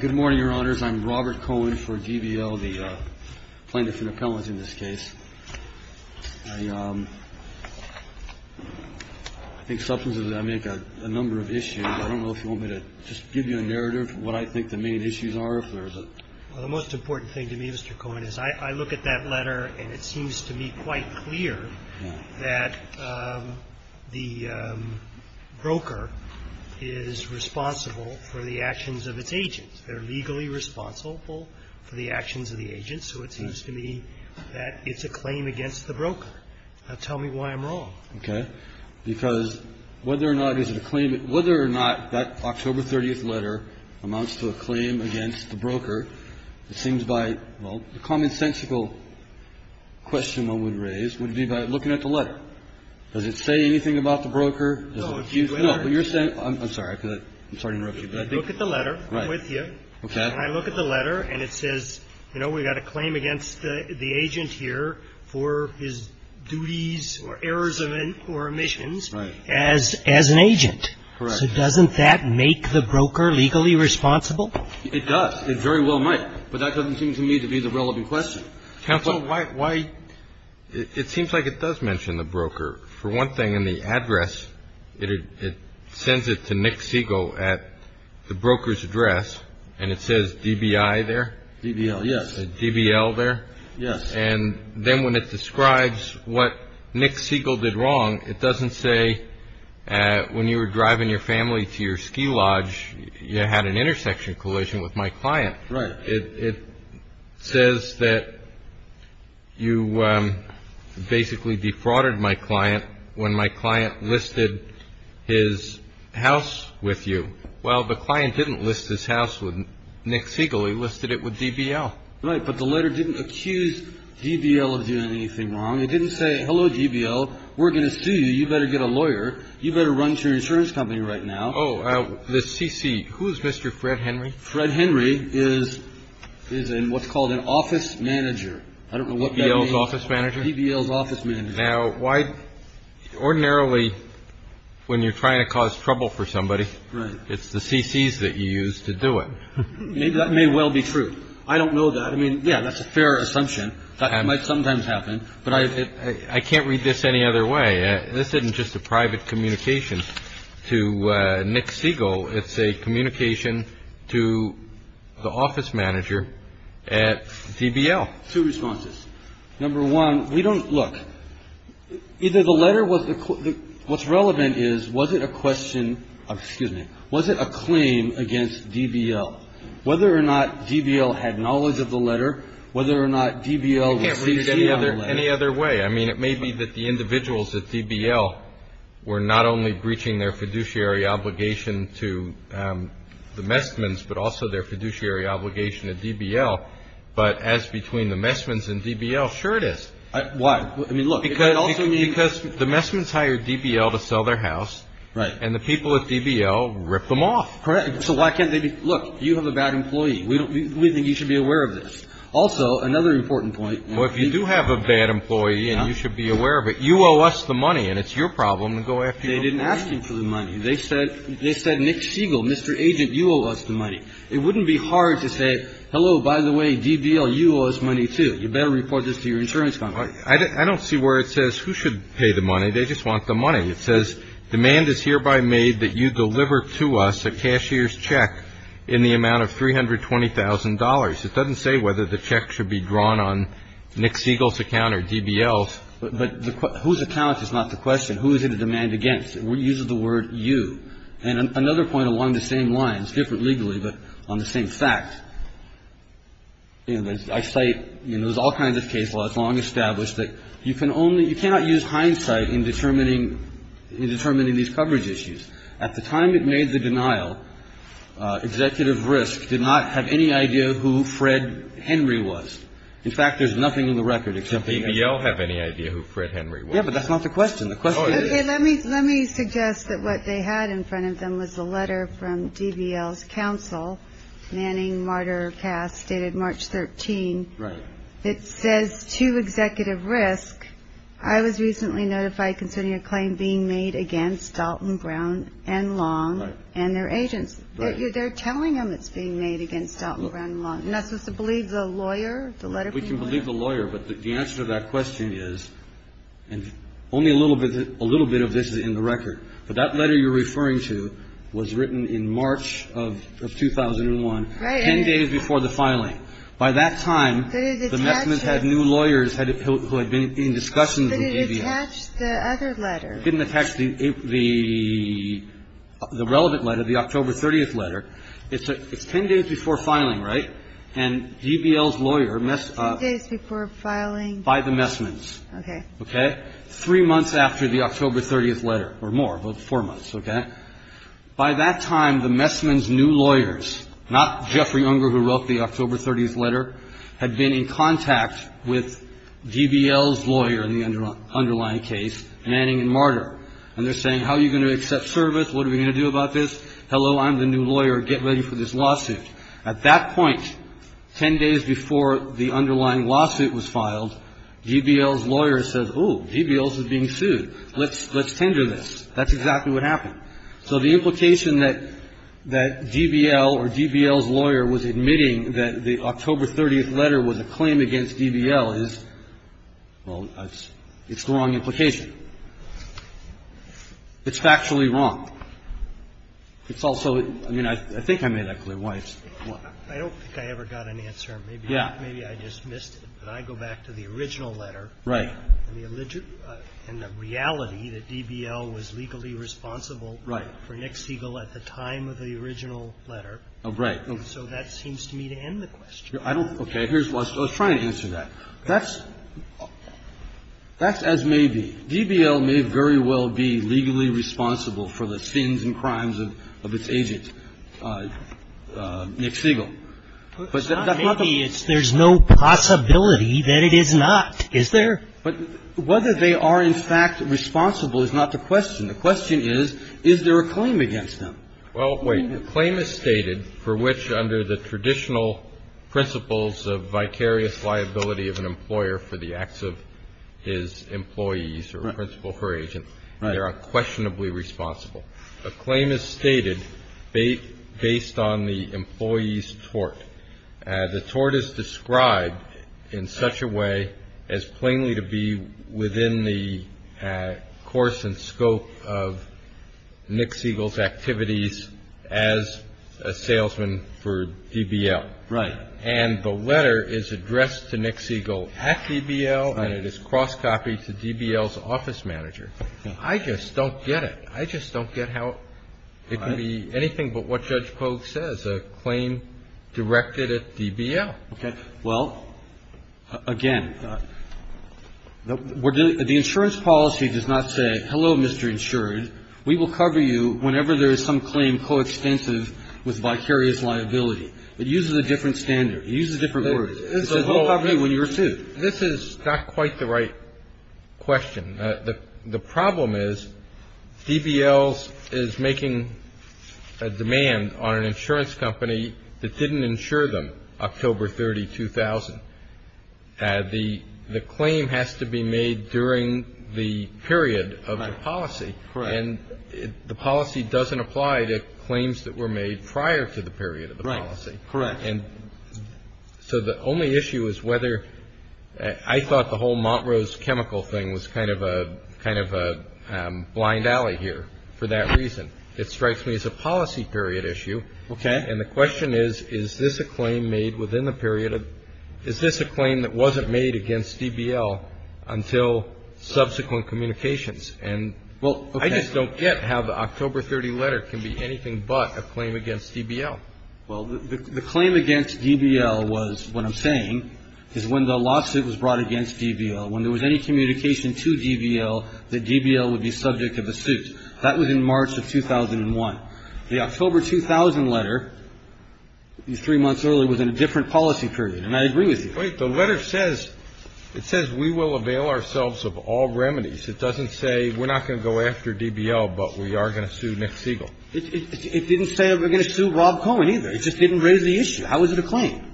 Good morning, Your Honors. I'm Robert Cohen for GBL, the plaintiff in appellants in this case. I think substances that I make are a number of issues. I don't know if you want me to just give you a narrative of what I think the main issues are. Well, the most important thing to me, Mr. Cohen, is I look at that letter and it seems to me quite clear that the broker is responsible for the actions of its agent. They're legally responsible for the actions of the agent, so it seems to me that it's a claim against the broker. Now tell me why I'm wrong. Okay. Because whether or not it's a claim – whether or not that October 30th letter amounts to a claim against the broker, it seems by – well, the commonsensical question one would raise would be by looking at the letter. Does it say anything about the broker? No. No, but you're saying – I'm sorry. I'm sorry to interrupt you. I look at the letter. I'm with you. I look at the letter and it says, you know, we've got a claim against the agent here for his duties or errors or omissions as an agent. Correct. So doesn't that make the broker legally responsible? It does. It very well might, but that doesn't seem to me to be the relevant question. Counsel, why – It seems like it does mention the broker. For one thing, in the address, it sends it to Nick Siegel at the broker's address and it says DBI there. DBL, yes. DBL there. Yes. And then when it describes what Nick Siegel did wrong, it doesn't say when you were driving your family to your ski lodge, you had an intersection collision with my client. Right. It says that you basically defrauded my client when my client listed his house with you. Well, the client didn't list his house with Nick Siegel. He listed it with DBL. Right, but the letter didn't accuse DBL of doing anything wrong. It didn't say, hello, DBL, we're going to sue you. You better get a lawyer. You better run to your insurance company right now. Oh, the CC. Who is Mr. Fred Henry? Fred Henry is in what's called an office manager. I don't know what that means. DBL's office manager? DBL's office manager. Now, why – ordinarily, when you're trying to cause trouble for somebody, it's the CCs that you use to do it. That may well be true. I don't know that. I mean, yeah, that's a fair assumption. That might sometimes happen. But I can't read this any other way. This isn't just a private communication to Nick Siegel. It's a communication to the office manager at DBL. Two responses. Number one, we don't – look, either the letter was – what's relevant is, was it a question – excuse me. Was it a claim against DBL? Whether or not DBL had knowledge of the letter, whether or not DBL was CC on the letter. I can't read it any other way. I mean, it may be that the individuals at DBL were not only breaching their fiduciary obligation to the Messmans, but also their fiduciary obligation to DBL. But as between the Messmans and DBL, sure it is. Why? I mean, look. Because the Messmans hired DBL to sell their house. Right. And the people at DBL ripped them off. Correct. So why can't they be – look, you have a bad employee. We think you should be aware of this. Also, another important point. Well, if you do have a bad employee and you should be aware of it, you owe us the money. And it's your problem to go after people. They didn't ask him for the money. They said Nick Siegel, Mr. Agent, you owe us the money. It wouldn't be hard to say, hello, by the way, DBL, you owe us money, too. You better report this to your insurance company. I don't see where it says who should pay the money. They just want the money. It says demand is hereby made that you deliver to us a cashier's check in the amount of $320,000. It doesn't say whether the check should be drawn on Nick Siegel's account or DBL's. But whose account is not the question. Who is it in demand against? It uses the word you. And another point along the same lines, different legally but on the same fact, I cite in those all kinds of case laws long established that you can only – you cannot use hindsight in determining these coverage issues. At the time it made the denial, Executive Risk did not have any idea who Fred Henry was. In fact, there's nothing in the record except – Did DBL have any idea who Fred Henry was? Yeah, but that's not the question. The question is – Okay, let me suggest that what they had in front of them was a letter from DBL's counsel, Manning, Marder, Cass, dated March 13th. Right. It says to Executive Risk, I was recently notified concerning a claim being made against Dalton, Brown, and Long and their agents. They're telling them it's being made against Dalton, Brown, and Long. And that's just to believe the lawyer, the letter from the lawyer? We can believe the lawyer, but the answer to that question is, and only a little bit of this is in the record, but that letter you're referring to was written in March of 2001, 10 days before the filing. By that time, the Messmans had new lawyers who had been in discussions with DBL. But it attached the other letter. It didn't attach the relevant letter, the October 30th letter. It's 10 days before filing, right? And DBL's lawyer – 10 days before filing. By the Messmans. Okay. Okay? Three months after the October 30th letter, or more, about four months, okay? By that time, the Messmans' new lawyers, not Jeffrey Unger who wrote the October 30th letter, had been in contact with DBL's lawyer in the underlying case, Manning and Martyr. And they're saying, how are you going to accept service? What are we going to do about this? Hello, I'm the new lawyer. Get ready for this lawsuit. At that point, 10 days before the underlying lawsuit was filed, DBL's lawyer says, ooh, DBL's is being sued. Let's tender this. That's exactly what happened. So the implication that DBL or DBL's lawyer was admitting that the October 30th letter was a claim against DBL is, well, it's the wrong implication. It's factually wrong. It's also – I mean, I think I made that clear. I don't think I ever got an answer. Maybe I just missed it. But I go back to the original letter. Right. And the reality that DBL was legally responsible for Nick Siegel at the time of the original letter. Right. So that seems to me to end the question. Okay. I was trying to answer that. That's – that's as may be. DBL may very well be legally responsible for the sins and crimes of its agent, Nick Siegel. It's not may be. It's there's no possibility that it is not. Is there? But whether they are, in fact, responsible is not the question. The question is, is there a claim against them? Well, wait. The claim is stated for which, under the traditional principles of vicarious liability of an employer for the acts of his employees or principal or agent, they are unquestionably responsible. A claim is stated based on the employee's tort. The tort is described in such a way as plainly to be within the course and scope of Nick Siegel's activities as a salesman for DBL. Right. And the letter is addressed to Nick Siegel at DBL. Right. And it is cross-copied to DBL's office manager. I just don't get it. I just don't get how it can be anything but what Judge Kogue says, a claim directed at DBL. Okay. Well, again, the insurance policy does not say, hello, Mr. Insured, we will cover you whenever there is some claim coextensive with vicarious liability. It uses a different standard. It uses different words. It says we'll cover you when you're sued. This is not quite the right question. The problem is DBL is making a demand on an insurance company that didn't insure them October 30, 2000. The claim has to be made during the period of the policy. Correct. And the policy doesn't apply to claims that were made prior to the period of the policy. Correct. And so the only issue is whether, I thought the whole Montrose chemical thing was kind of a blind alley here for that reason. It strikes me as a policy period issue. Okay. And the question is, is this a claim made within the period of, is this a claim that wasn't made against DBL until subsequent communications? And I just don't get how the October 30 letter can be anything but a claim against DBL. Well, the claim against DBL was, what I'm saying, is when the lawsuit was brought against DBL, when there was any communication to DBL that DBL would be subject of a suit. That was in March of 2001. The October 2000 letter, three months earlier, was in a different policy period. And I agree with you. Wait. The letter says, it says we will avail ourselves of all remedies. It doesn't say we're not going to go after DBL, but we are going to sue Nick Siegel. It didn't say we're going to sue Rob Cohen, either. It just didn't raise the issue. How is it a claim?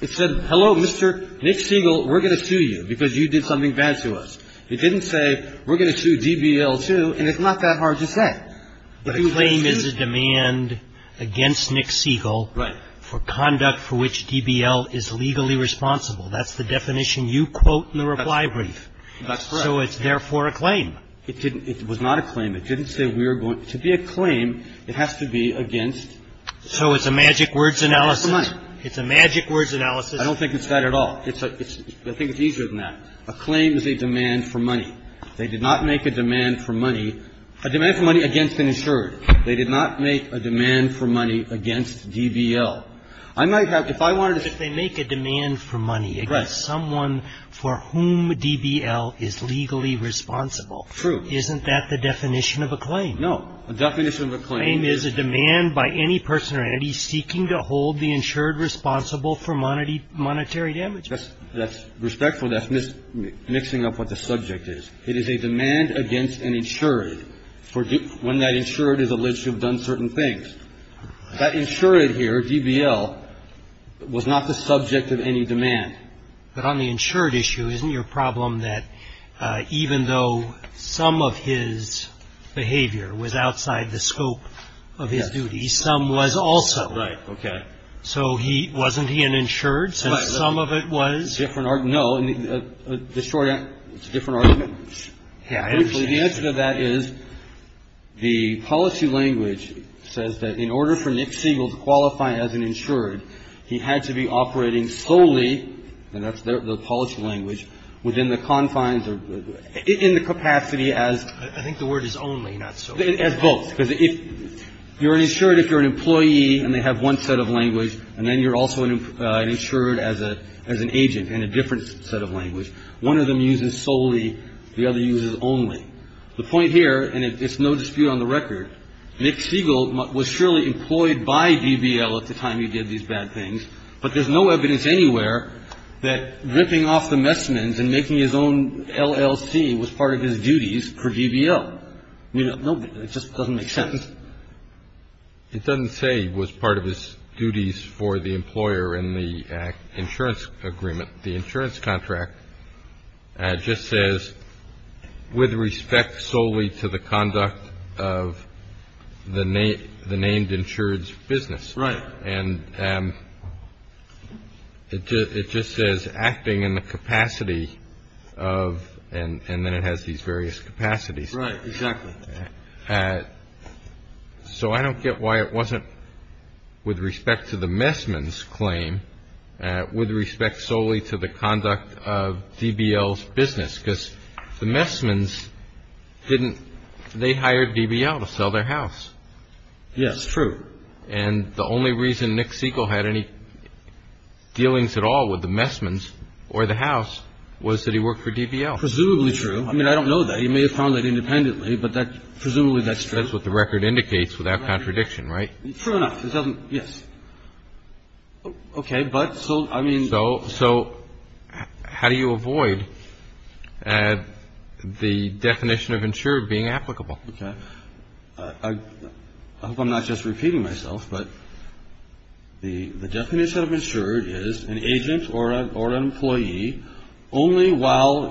It said, hello, Mr. Nick Siegel, we're going to sue you because you did something bad to us. It didn't say we're going to sue DBL, too, and it's not that hard to say. But a claim is a demand against Nick Siegel. Right. For conduct for which DBL is legally responsible. That's the definition you quote in the reply brief. That's correct. So it's therefore a claim. It didn't, it was not a claim. It didn't say we're going to be a claim. It has to be against. So it's a magic words analysis. It's a magic words analysis. I don't think it's that at all. It's a, it's, I think it's easier than that. A claim is a demand for money. They did not make a demand for money, a demand for money against an insured. They did not make a demand for money against DBL. I might have, if I wanted to. If they make a demand for money against someone for whom DBL is legally responsible. True. Isn't that the definition of a claim? No. A definition of a claim is. A claim is a demand by any person or entity seeking to hold the insured responsible for monetary damage. That's respectful. That's mixing up what the subject is. It is a demand against an insured for when that insured is alleged to have done certain things. That insured here, DBL, was not the subject of any demand. But on the insured issue, isn't your problem that even though some of his behavior was outside the scope of his duties, some was also. Right. Okay. So he, wasn't he an insured since some of it was. Different, no. The short answer, it's a different argument. The answer to that is the policy language says that in order for Nick Siegel to qualify as an insured, he had to be operating solely, and that's the policy language, within the confines or in the capacity as. I think the word is only, not solely. As both. Because if you're an insured, if you're an employee and they have one set of language, and then you're also an insured as a, as an agent in a different set of language, one of them uses solely, the other uses only. The point here, and it's no dispute on the record, Nick Siegel was surely employed by DBL at the time he did these bad things, but there's no evidence anywhere that ripping off the Messamans and making his own LLC was part of his duties for DBL. I mean, it just doesn't make sense. It doesn't say he was part of his duties for the employer in the insurance agreement. The insurance contract just says with respect solely to the conduct of the named insured's business. Right. And it just says acting in the capacity of, and then it has these various capacities. Right. Exactly. So I don't get why it wasn't with respect to the Messamans claim, with respect solely to the conduct of DBL's business. Because the Messamans didn't, they hired DBL to sell their house. Yes, true. And the only reason Nick Siegel had any dealings at all with the Messamans or the house was that he worked for DBL. Presumably true. I mean, I don't know that. He may have found that independently, but presumably that's true. That's what the record indicates without contradiction, right? True enough. It doesn't, yes. Okay. But so, I mean. So how do you avoid the definition of insured being applicable? Okay. I hope I'm not just repeating myself, but the definition of insured is an agent or an employee only while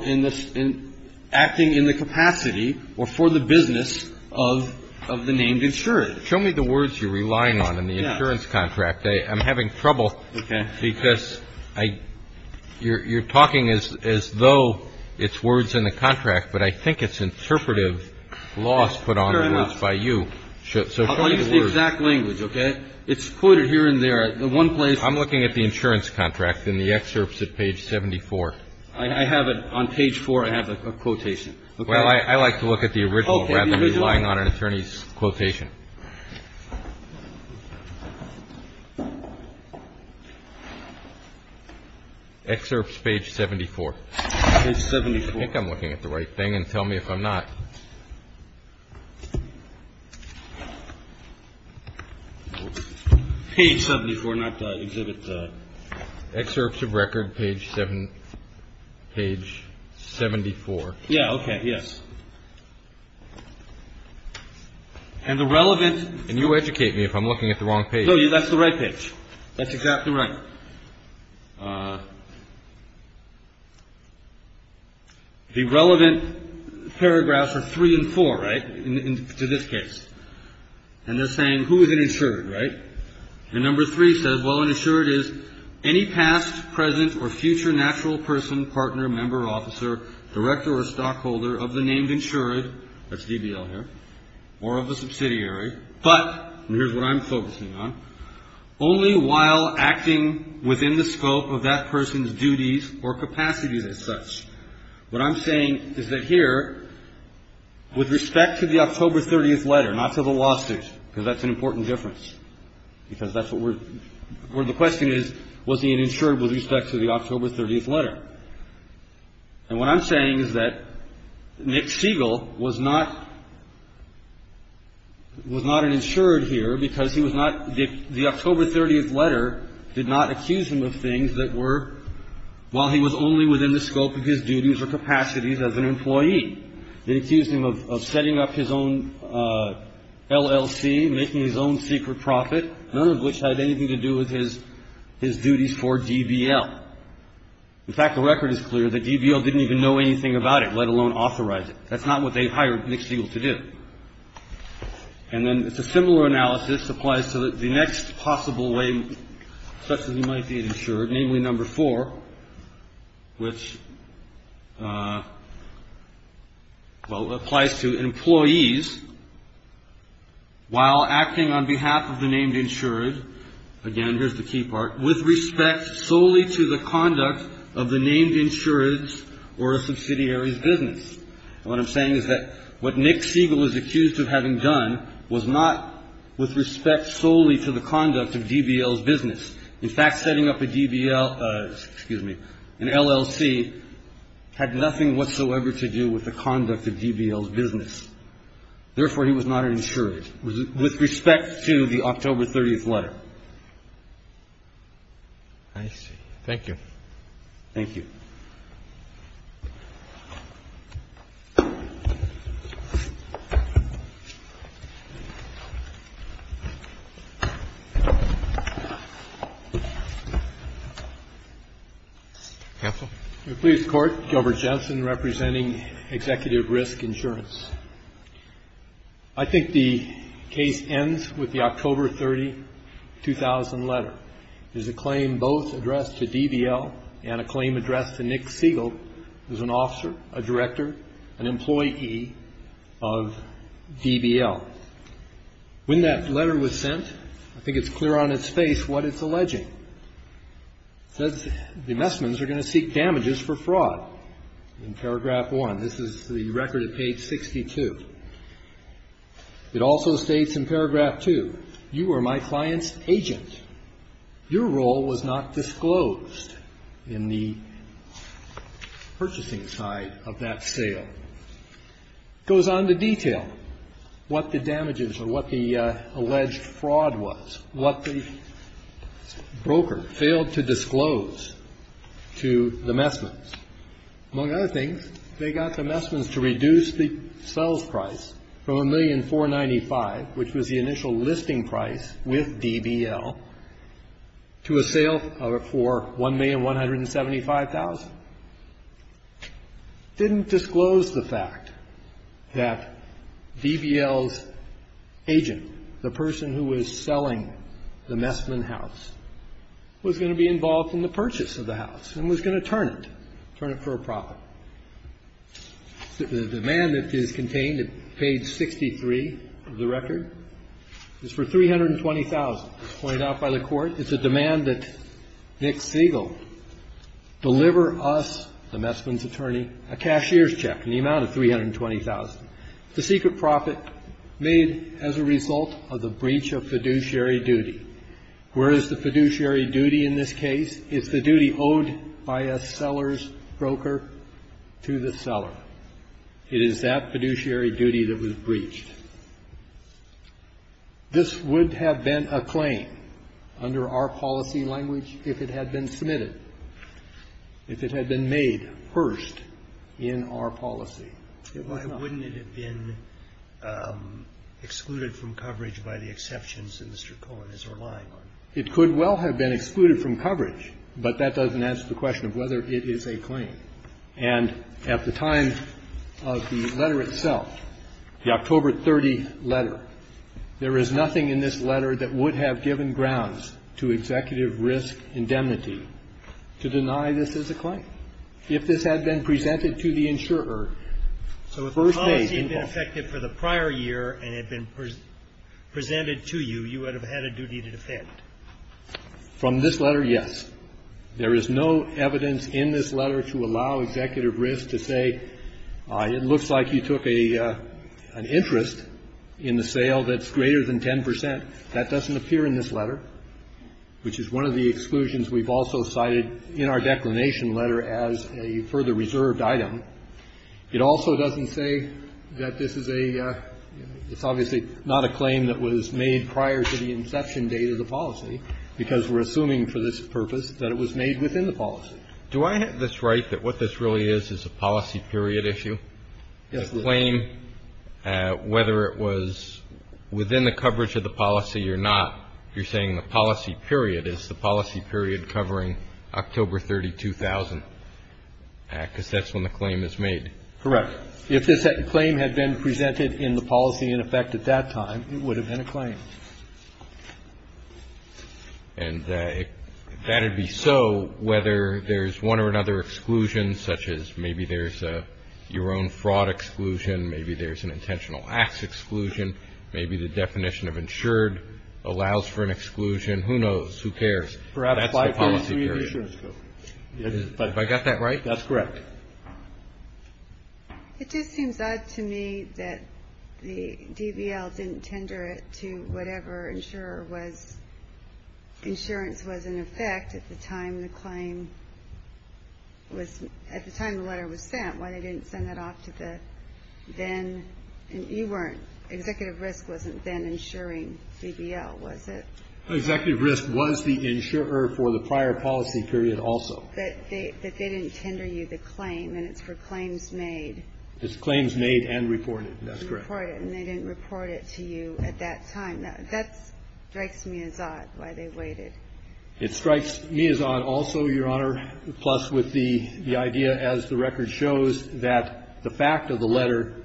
acting in the capacity or for the business of the named insured. Show me the words you're relying on in the insurance contract. I'm having trouble. Okay. Because you're talking as though it's words in the contract, but I think it's interpretive laws put on the words by you. Sure enough. So show me the words. I'll use the exact language, okay? It's quoted here and there. I'm looking at the insurance contract in the excerpts at page 74. I have it on page 4. I have a quotation. Well, I like to look at the original rather than relying on an attorney's quotation. Excerpts page 74. Page 74. I think I'm looking at the right thing, and tell me if I'm not. Page 74, not exhibit. Excerpts of record, page 74. Yeah, okay. Yes. And the relevant. And you educate me if I'm looking at the wrong page. No, that's the right page. That's exactly right. The relevant paragraphs are 3 and 4, right, to this case. And they're saying who is an insured, right? And number 3 says, well, an insured is any past, present, or future natural person, partner, member, officer, director, or stockholder of the named insured, that's DBL here, or of the subsidiary, but, and here's what I'm focusing on, only while acting within the scope of that person's duties or capacities as such. What I'm saying is that here, with respect to the October 30th letter, not to the lawsuit, because that's an important difference, because that's what we're the question is, was he an insured with respect to the October 30th letter. And what I'm saying is that Nick Siegel was not, was not an insured here because he was not, the October 30th letter did not accuse him of things that were, while he was only within the scope of his duties or capacities as an employee. It accused him of setting up his own LLC, making his own secret profit, none of which had anything to do with his duties for DBL. In fact, the record is clear that DBL didn't even know anything about it, let alone authorize it. That's not what they hired Nick Siegel to do. And then it's a similar analysis applies to the next possible way such as he might be an insured, namely number four, which, well, applies to employees while acting on behalf of the named insured. Again, here's the key part, with respect solely to the conduct of the named insured's or a subsidiary's business. And what I'm saying is that what Nick Siegel is accused of having done was not with respect solely to the conduct of DBL's business. In fact, setting up a DBL, excuse me, an LLC had nothing whatsoever to do with the conduct of DBL's business. Therefore, he was not an insured with respect to the October 30th letter. I see. Thank you. Thank you. Counsel? Please, Court. Gilbert Jensen representing Executive Risk Insurance. I think the case ends with the October 30, 2000 letter. There's a claim both addressed to DBL and a claim addressed to Nick Siegel, who's an officer, a director, an employee of DBL. When that letter was sent, I think it's clear on its face what it's alleging. It says the Messmans are going to seek damages for fraud in paragraph one. This is the record at page 62. It also states in paragraph two, you were my client's agent. Your role was not disclosed in the purchasing side of that sale. It goes on to detail what the damages or what the alleged fraud was, what the broker failed to disclose to the Messmans. Among other things, they got the Messmans to reduce the sales price from $1,495,000, which was the initial listing price with DBL, to a sale for $1,175,000. Didn't disclose the fact that DBL's agent, the person who was selling the Messman house, was going to be involved in the purchase of the house and was going to turn it, turn it for a profit. The demand that is contained at page 63 of the record is for $320,000. As pointed out by the Court, it's a demand that Nick Siegel deliver us, the Messmans' attorney, a cashier's check in the amount of $320,000. It's a secret profit made as a result of the breach of fiduciary duty. Where is the fiduciary duty in this case? It's the duty owed by a seller's broker to the seller. It is that fiduciary duty that was breached. This would have been a claim under our policy language if it had been submitted, if it had been made first in our policy. Why wouldn't it have been excluded from coverage by the exceptions that Mr. Cohen is relying on? It could well have been excluded from coverage, but that doesn't answer the question of whether it is a claim. And at the time of the letter itself, the October 30th letter, there is nothing in this letter that would have given grounds to executive risk indemnity to deny this as a claim. If this had been presented to the insurer, so if the policy had been effective for the prior year and had been presented to you, you would have had a duty to defend. From this letter, yes. There is no evidence in this letter to allow executive risk to say, it looks like you took an interest in the sale that's greater than 10 percent. That doesn't appear in this letter, which is one of the exclusions we've also cited in our declination letter as a further reserved item. It also doesn't say that this is a – it's obviously not a claim that was made prior to the inception date of the policy, because we're assuming for this purpose that it was made within the policy. Do I have this right that what this really is is a policy period issue? Yes, it is. A claim, whether it was within the coverage of the policy or not, you're saying the policy period is the policy period covering October 32,000, because that's when the claim is made. Correct. If this claim had been presented in the policy in effect at that time, it would have been a claim. And if that had been so, whether there's one or another exclusion, such as maybe there's your own fraud exclusion, maybe there's an intentional acts exclusion, maybe the definition of insured allows for an exclusion. Who knows? Who cares? Perhaps the policy period. That's the policy period. Have I got that right? That's correct. It just seems odd to me that the DBL didn't tender it to whatever insurer was – insurance was in effect at the time the claim was – at the time the letter was sent. Why they didn't send that off to the then – you weren't – Executive Risk wasn't then insuring DBL, was it? Executive Risk was the insurer for the prior policy period also. But they didn't tender you the claim, and it's for claims made. It's claims made and reported. That's correct. And they didn't report it to you at that time. That strikes me as odd why they waited. It strikes me as odd also, Your Honor, plus with the idea, as the record shows, that the fact of the letter,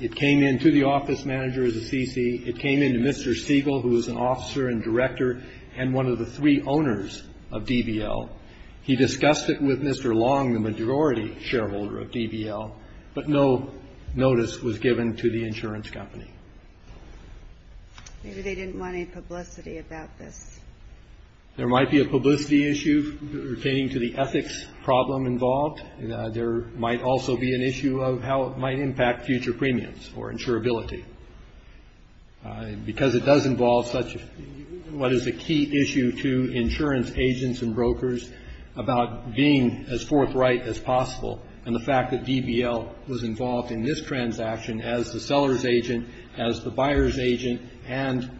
it came in to the office manager of the CC. It came in to Mr. Siegel, who was an officer and director and one of the three owners of DBL. He discussed it with Mr. Long, the majority shareholder of DBL, but no notice was given to the insurance company. Maybe they didn't want any publicity about this. There might be a publicity issue pertaining to the ethics problem involved. There might also be an issue of how it might impact future premiums or insurability. Because it does involve such – what is a key issue to insurance agents and brokers about being as forthright as possible and the fact that DBL was involved in this transaction as the seller's agent, as the buyer's agent, and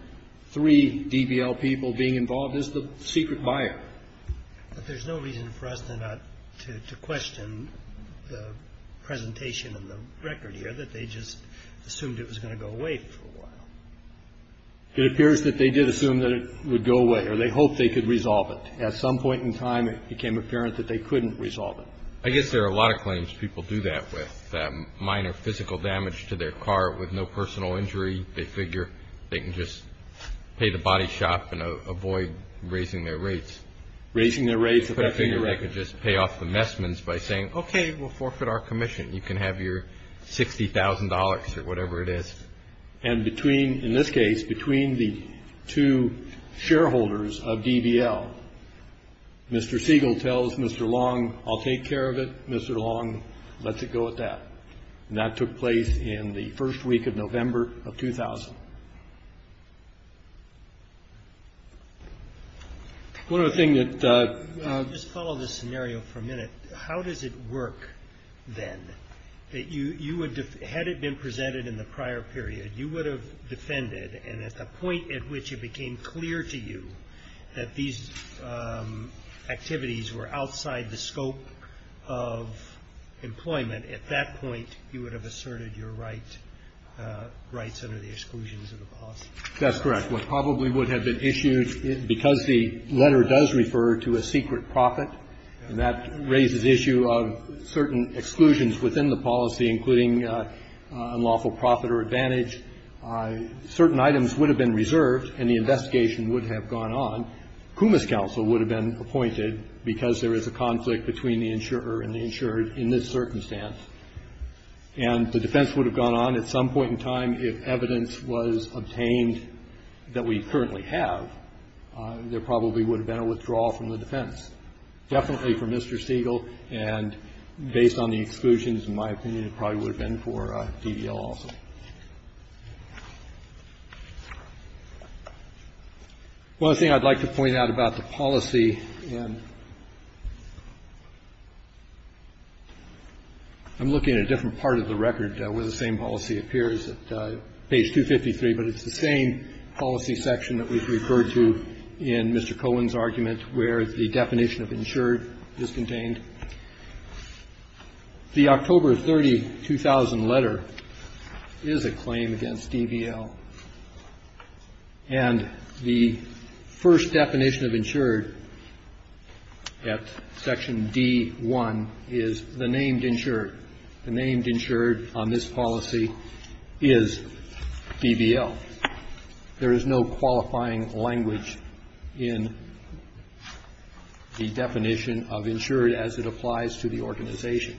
three DBL people being involved as the secret buyer. But there's no reason for us to not to question the presentation of the record here, that they just assumed it was going to go away for a while. It appears that they did assume that it would go away, or they hoped they could resolve it. At some point in time, it became apparent that they couldn't resolve it. I guess there are a lot of claims people do that with minor physical damage to their car with no personal injury. They figure they can just pay the body shop and avoid raising their rates. Raising their rates. They figure they could just pay off the messmen by saying, okay, we'll forfeit our commission. You can have your $60,000 or whatever it is. And between – in this case, between the two shareholders of DBL, Mr. Siegel tells Mr. Long, I'll take care of it. Mr. Long lets it go at that. And that took place in the first week of November of 2000. One other thing that – Just follow this scenario for a minute. How does it work, then, that you would – had it been presented in the prior period, you would have defended and at the point at which it became clear to you that these activities were outside the scope of employment, at that point you would have asserted your rights under the exclusions of the policy? That's correct. What probably would have been issued, because the letter does refer to a secret profit, and that raises the issue of certain exclusions within the policy, including unlawful profit or advantage. Certain items would have been reserved and the investigation would have gone on. Kumis counsel would have been appointed, because there is a conflict between the insurer and the insured in this circumstance. And the defense would have gone on at some point in time if evidence was obtained that we currently have. There probably would have been a withdrawal from the defense. Definitely for Mr. Siegel. And based on the exclusions, in my opinion, it probably would have been for DBL also. One other thing I'd like to point out about the policy in – I'm looking at a different part of the record where the same policy appears, at page 253, but it's the same policy referred to in Mr. Cohen's argument where the definition of insured is contained. The October 30, 2000 letter is a claim against DBL. And the first definition of insured at section D1 is the named insured. The named insured on this policy is DBL. There is no qualifying language in the definition of insured as it applies to the organization.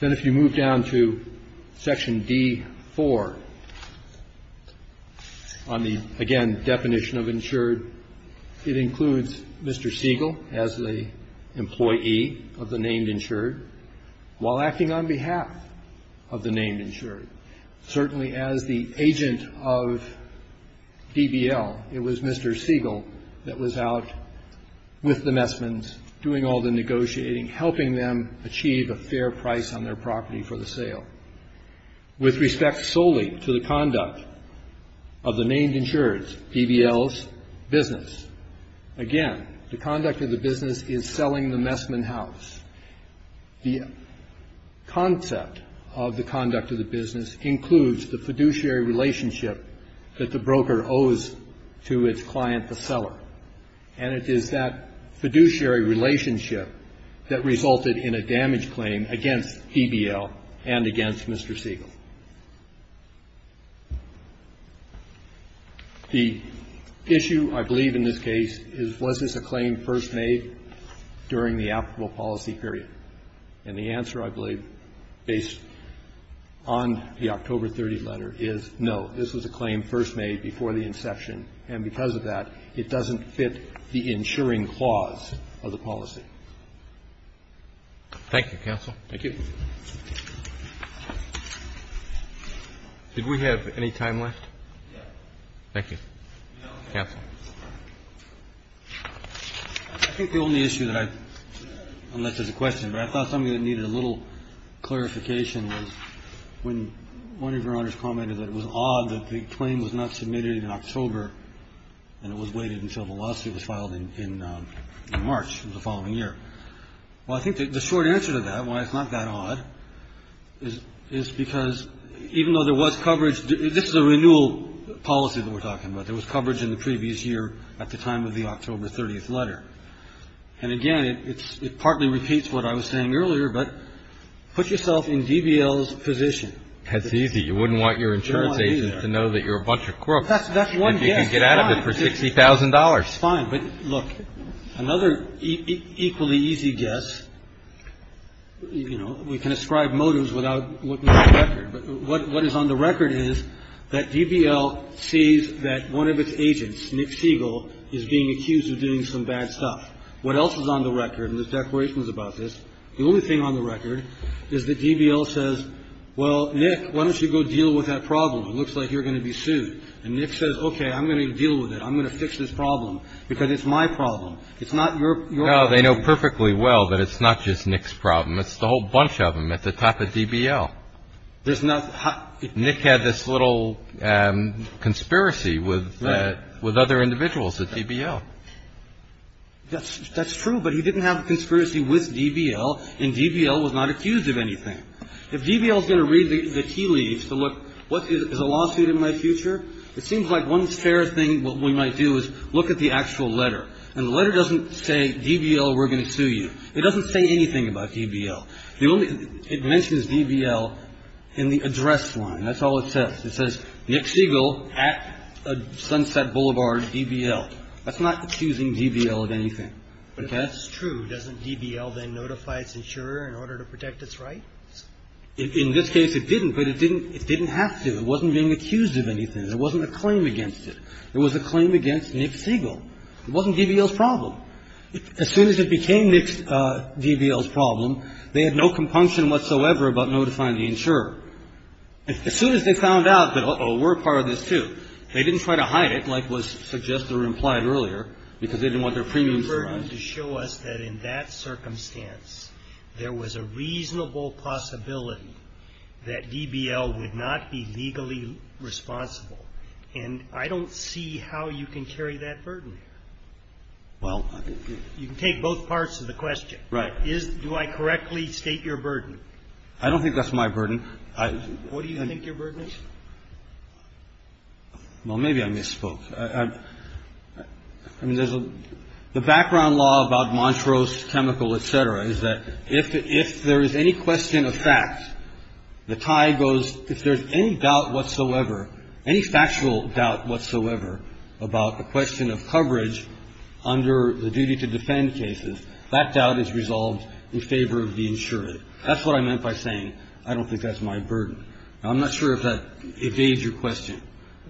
Then if you move down to section D4, on the, again, definition of insured, it includes Mr. Siegel as the employee of the named insured while acting on behalf of the named insured. Certainly as the agent of DBL. It was Mr. Siegel that was out with the Messmans doing all the negotiating, helping them achieve a fair price on their property for the sale. With respect solely to the conduct of the named insured, DBL's business. Again, the conduct of the business is selling the Messman house. The concept of the conduct of the business includes the fiduciary relationship that the broker owes to its client, the seller. And it is that fiduciary relationship that resulted in a damage claim against DBL and against Mr. Siegel. The issue, I believe, in this case is was this a claim first made during the applicable policy period? And the answer, I believe, based on the October 30th letter is no. This was a claim first made before the inception, and because of that, it doesn't fit the insuring clause of the policy. Thank you, counsel. Thank you. Did we have any time left? Yes. Thank you. No. Counsel. I think the only issue that I unless there's a question, but I thought something that needed a little clarification was when one of Your Honors commented that it was odd that the claim was not submitted in October and it was waited until the lawsuit was filed in March of the following year. Well, I think the short answer to that, why it's not that odd, is because even though there was coverage, this is a renewal policy that we're talking about. There was coverage in the previous year at the time of the October 30th letter. And again, it partly repeats what I was saying earlier, but put yourself in DBL's position. That's easy. You wouldn't want your insurance agent to know that you're a bunch of crooks. That's one guess. If you can get out of it for $60,000. Fine. But look, another equally easy guess, you know, we can ascribe motives without looking at the record. But what is on the record is that DBL sees that one of its agents, Nick Siegel, is being accused of doing some bad stuff. What else is on the record? And this declaration was about this. The only thing on the record is that DBL says, well, Nick, why don't you go deal with that problem? It looks like you're going to be sued. And Nick says, okay, I'm going to deal with it. I'm going to fix this problem because it's my problem. It's not your problem. Well, they know perfectly well that it's not just Nick's problem. It's the whole bunch of them at the top of DBL. There's not. Nick had this little conspiracy with other individuals at DBL. That's true. But he didn't have a conspiracy with DBL, and DBL was not accused of anything. If DBL is going to read the key leads to look what is a lawsuit in my future, it seems like one fair thing we might do is look at the actual letter. And the letter doesn't say DBL, we're going to sue you. It doesn't say anything about DBL. It mentions DBL in the address line. That's all it says. It says Nick Siegel at Sunset Boulevard, DBL. That's not accusing DBL of anything. Okay? But if that's true, doesn't DBL then notify its insurer in order to protect its rights? In this case, it didn't, but it didn't have to. It wasn't being accused of anything. There wasn't a claim against it. There was a claim against Nick Siegel. It wasn't DBL's problem. As soon as it became DBL's problem, they had no compunction whatsoever about notifying the insurer. As soon as they found out that, uh-oh, we're a part of this, too, they didn't try to hide it like was suggested or implied earlier because they didn't want their premiums to run. I don't think that's my burden. What do you think your burden is? Well, maybe I misspoke. I mean, there's a – the background law is that DBL is not legally responsible I don't think that's DBL's burden. The background law about Montrose Chemical, et cetera, is that if there is any question of fact, the tie goes – if there's any doubt whatsoever, any factual doubt whatsoever about the question of coverage under the duty to defend cases, that doubt is resolved in favor of the insurer. That's what I meant by saying I don't think that's my burden. Now, I'm not sure if that evades your question.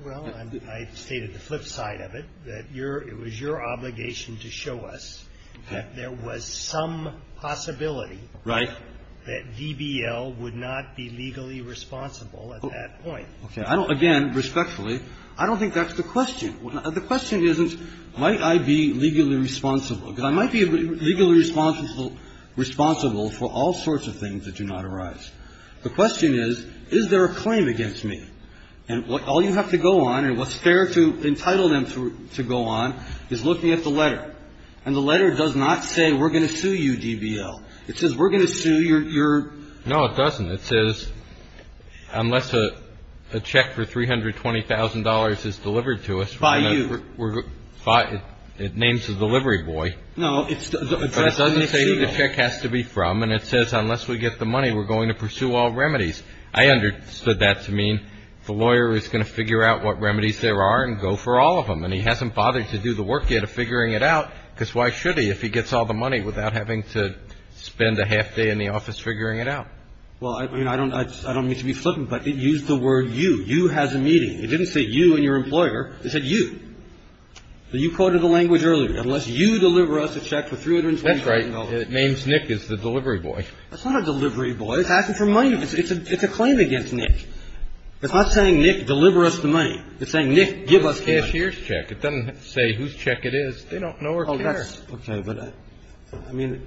Well, I stated the flip side of it, that it was your obligation to show us that there was some possibility that DBL would not be legally responsible at that point. Okay. Again, respectfully, I don't think that's the question. The question isn't might I be legally responsible, because I might be legally responsible for all sorts of things that do not arise. The question is, is there a claim against me? And all you have to go on, and what's fair to entitle them to go on, is looking at the letter. And the letter does not say we're going to sue you, DBL. It says we're going to sue your – your – No, it doesn't. It says unless a check for $320,000 is delivered to us, we're going to – By you. It names the delivery boy. No. But it doesn't say who the check has to be from, and it says unless we get the money, we're going to pursue all remedies. I understood that to mean the lawyer is going to figure out what remedies there are and go for all of them. And he hasn't bothered to do the work yet of figuring it out, because why should he if he gets all the money without having to spend a half day in the office figuring it out? Well, I mean, I don't – I don't mean to be flippant, but it used the word you. You has a meeting. It didn't say you and your employer. It said you. So you quoted the language earlier, unless you deliver us a check for $320,000. That's right. It names Nick as the delivery boy. That's not a delivery boy. It's asking for money. It's a claim. It's a claim against Nick. It's not saying, Nick, deliver us the money. It's saying, Nick, give us the money. It's a cashier's check. It doesn't say whose check it is. They don't know or care. Oh, that's okay. But I mean,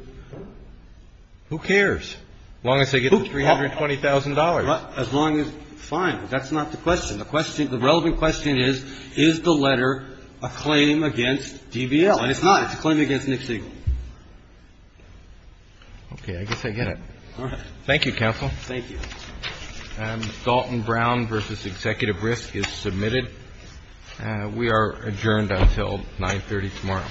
who cares? As long as they get the $320,000. As long as – fine. That's not the question. The question – the relevant question is, is the letter a claim against DBL? And it's not. It's a claim against Nick Siegel. Okay. I guess I get it. All right. Thank you, counsel. Thank you. Dalton Brown v. Executive Risk is submitted. We are adjourned until 930 tomorrow.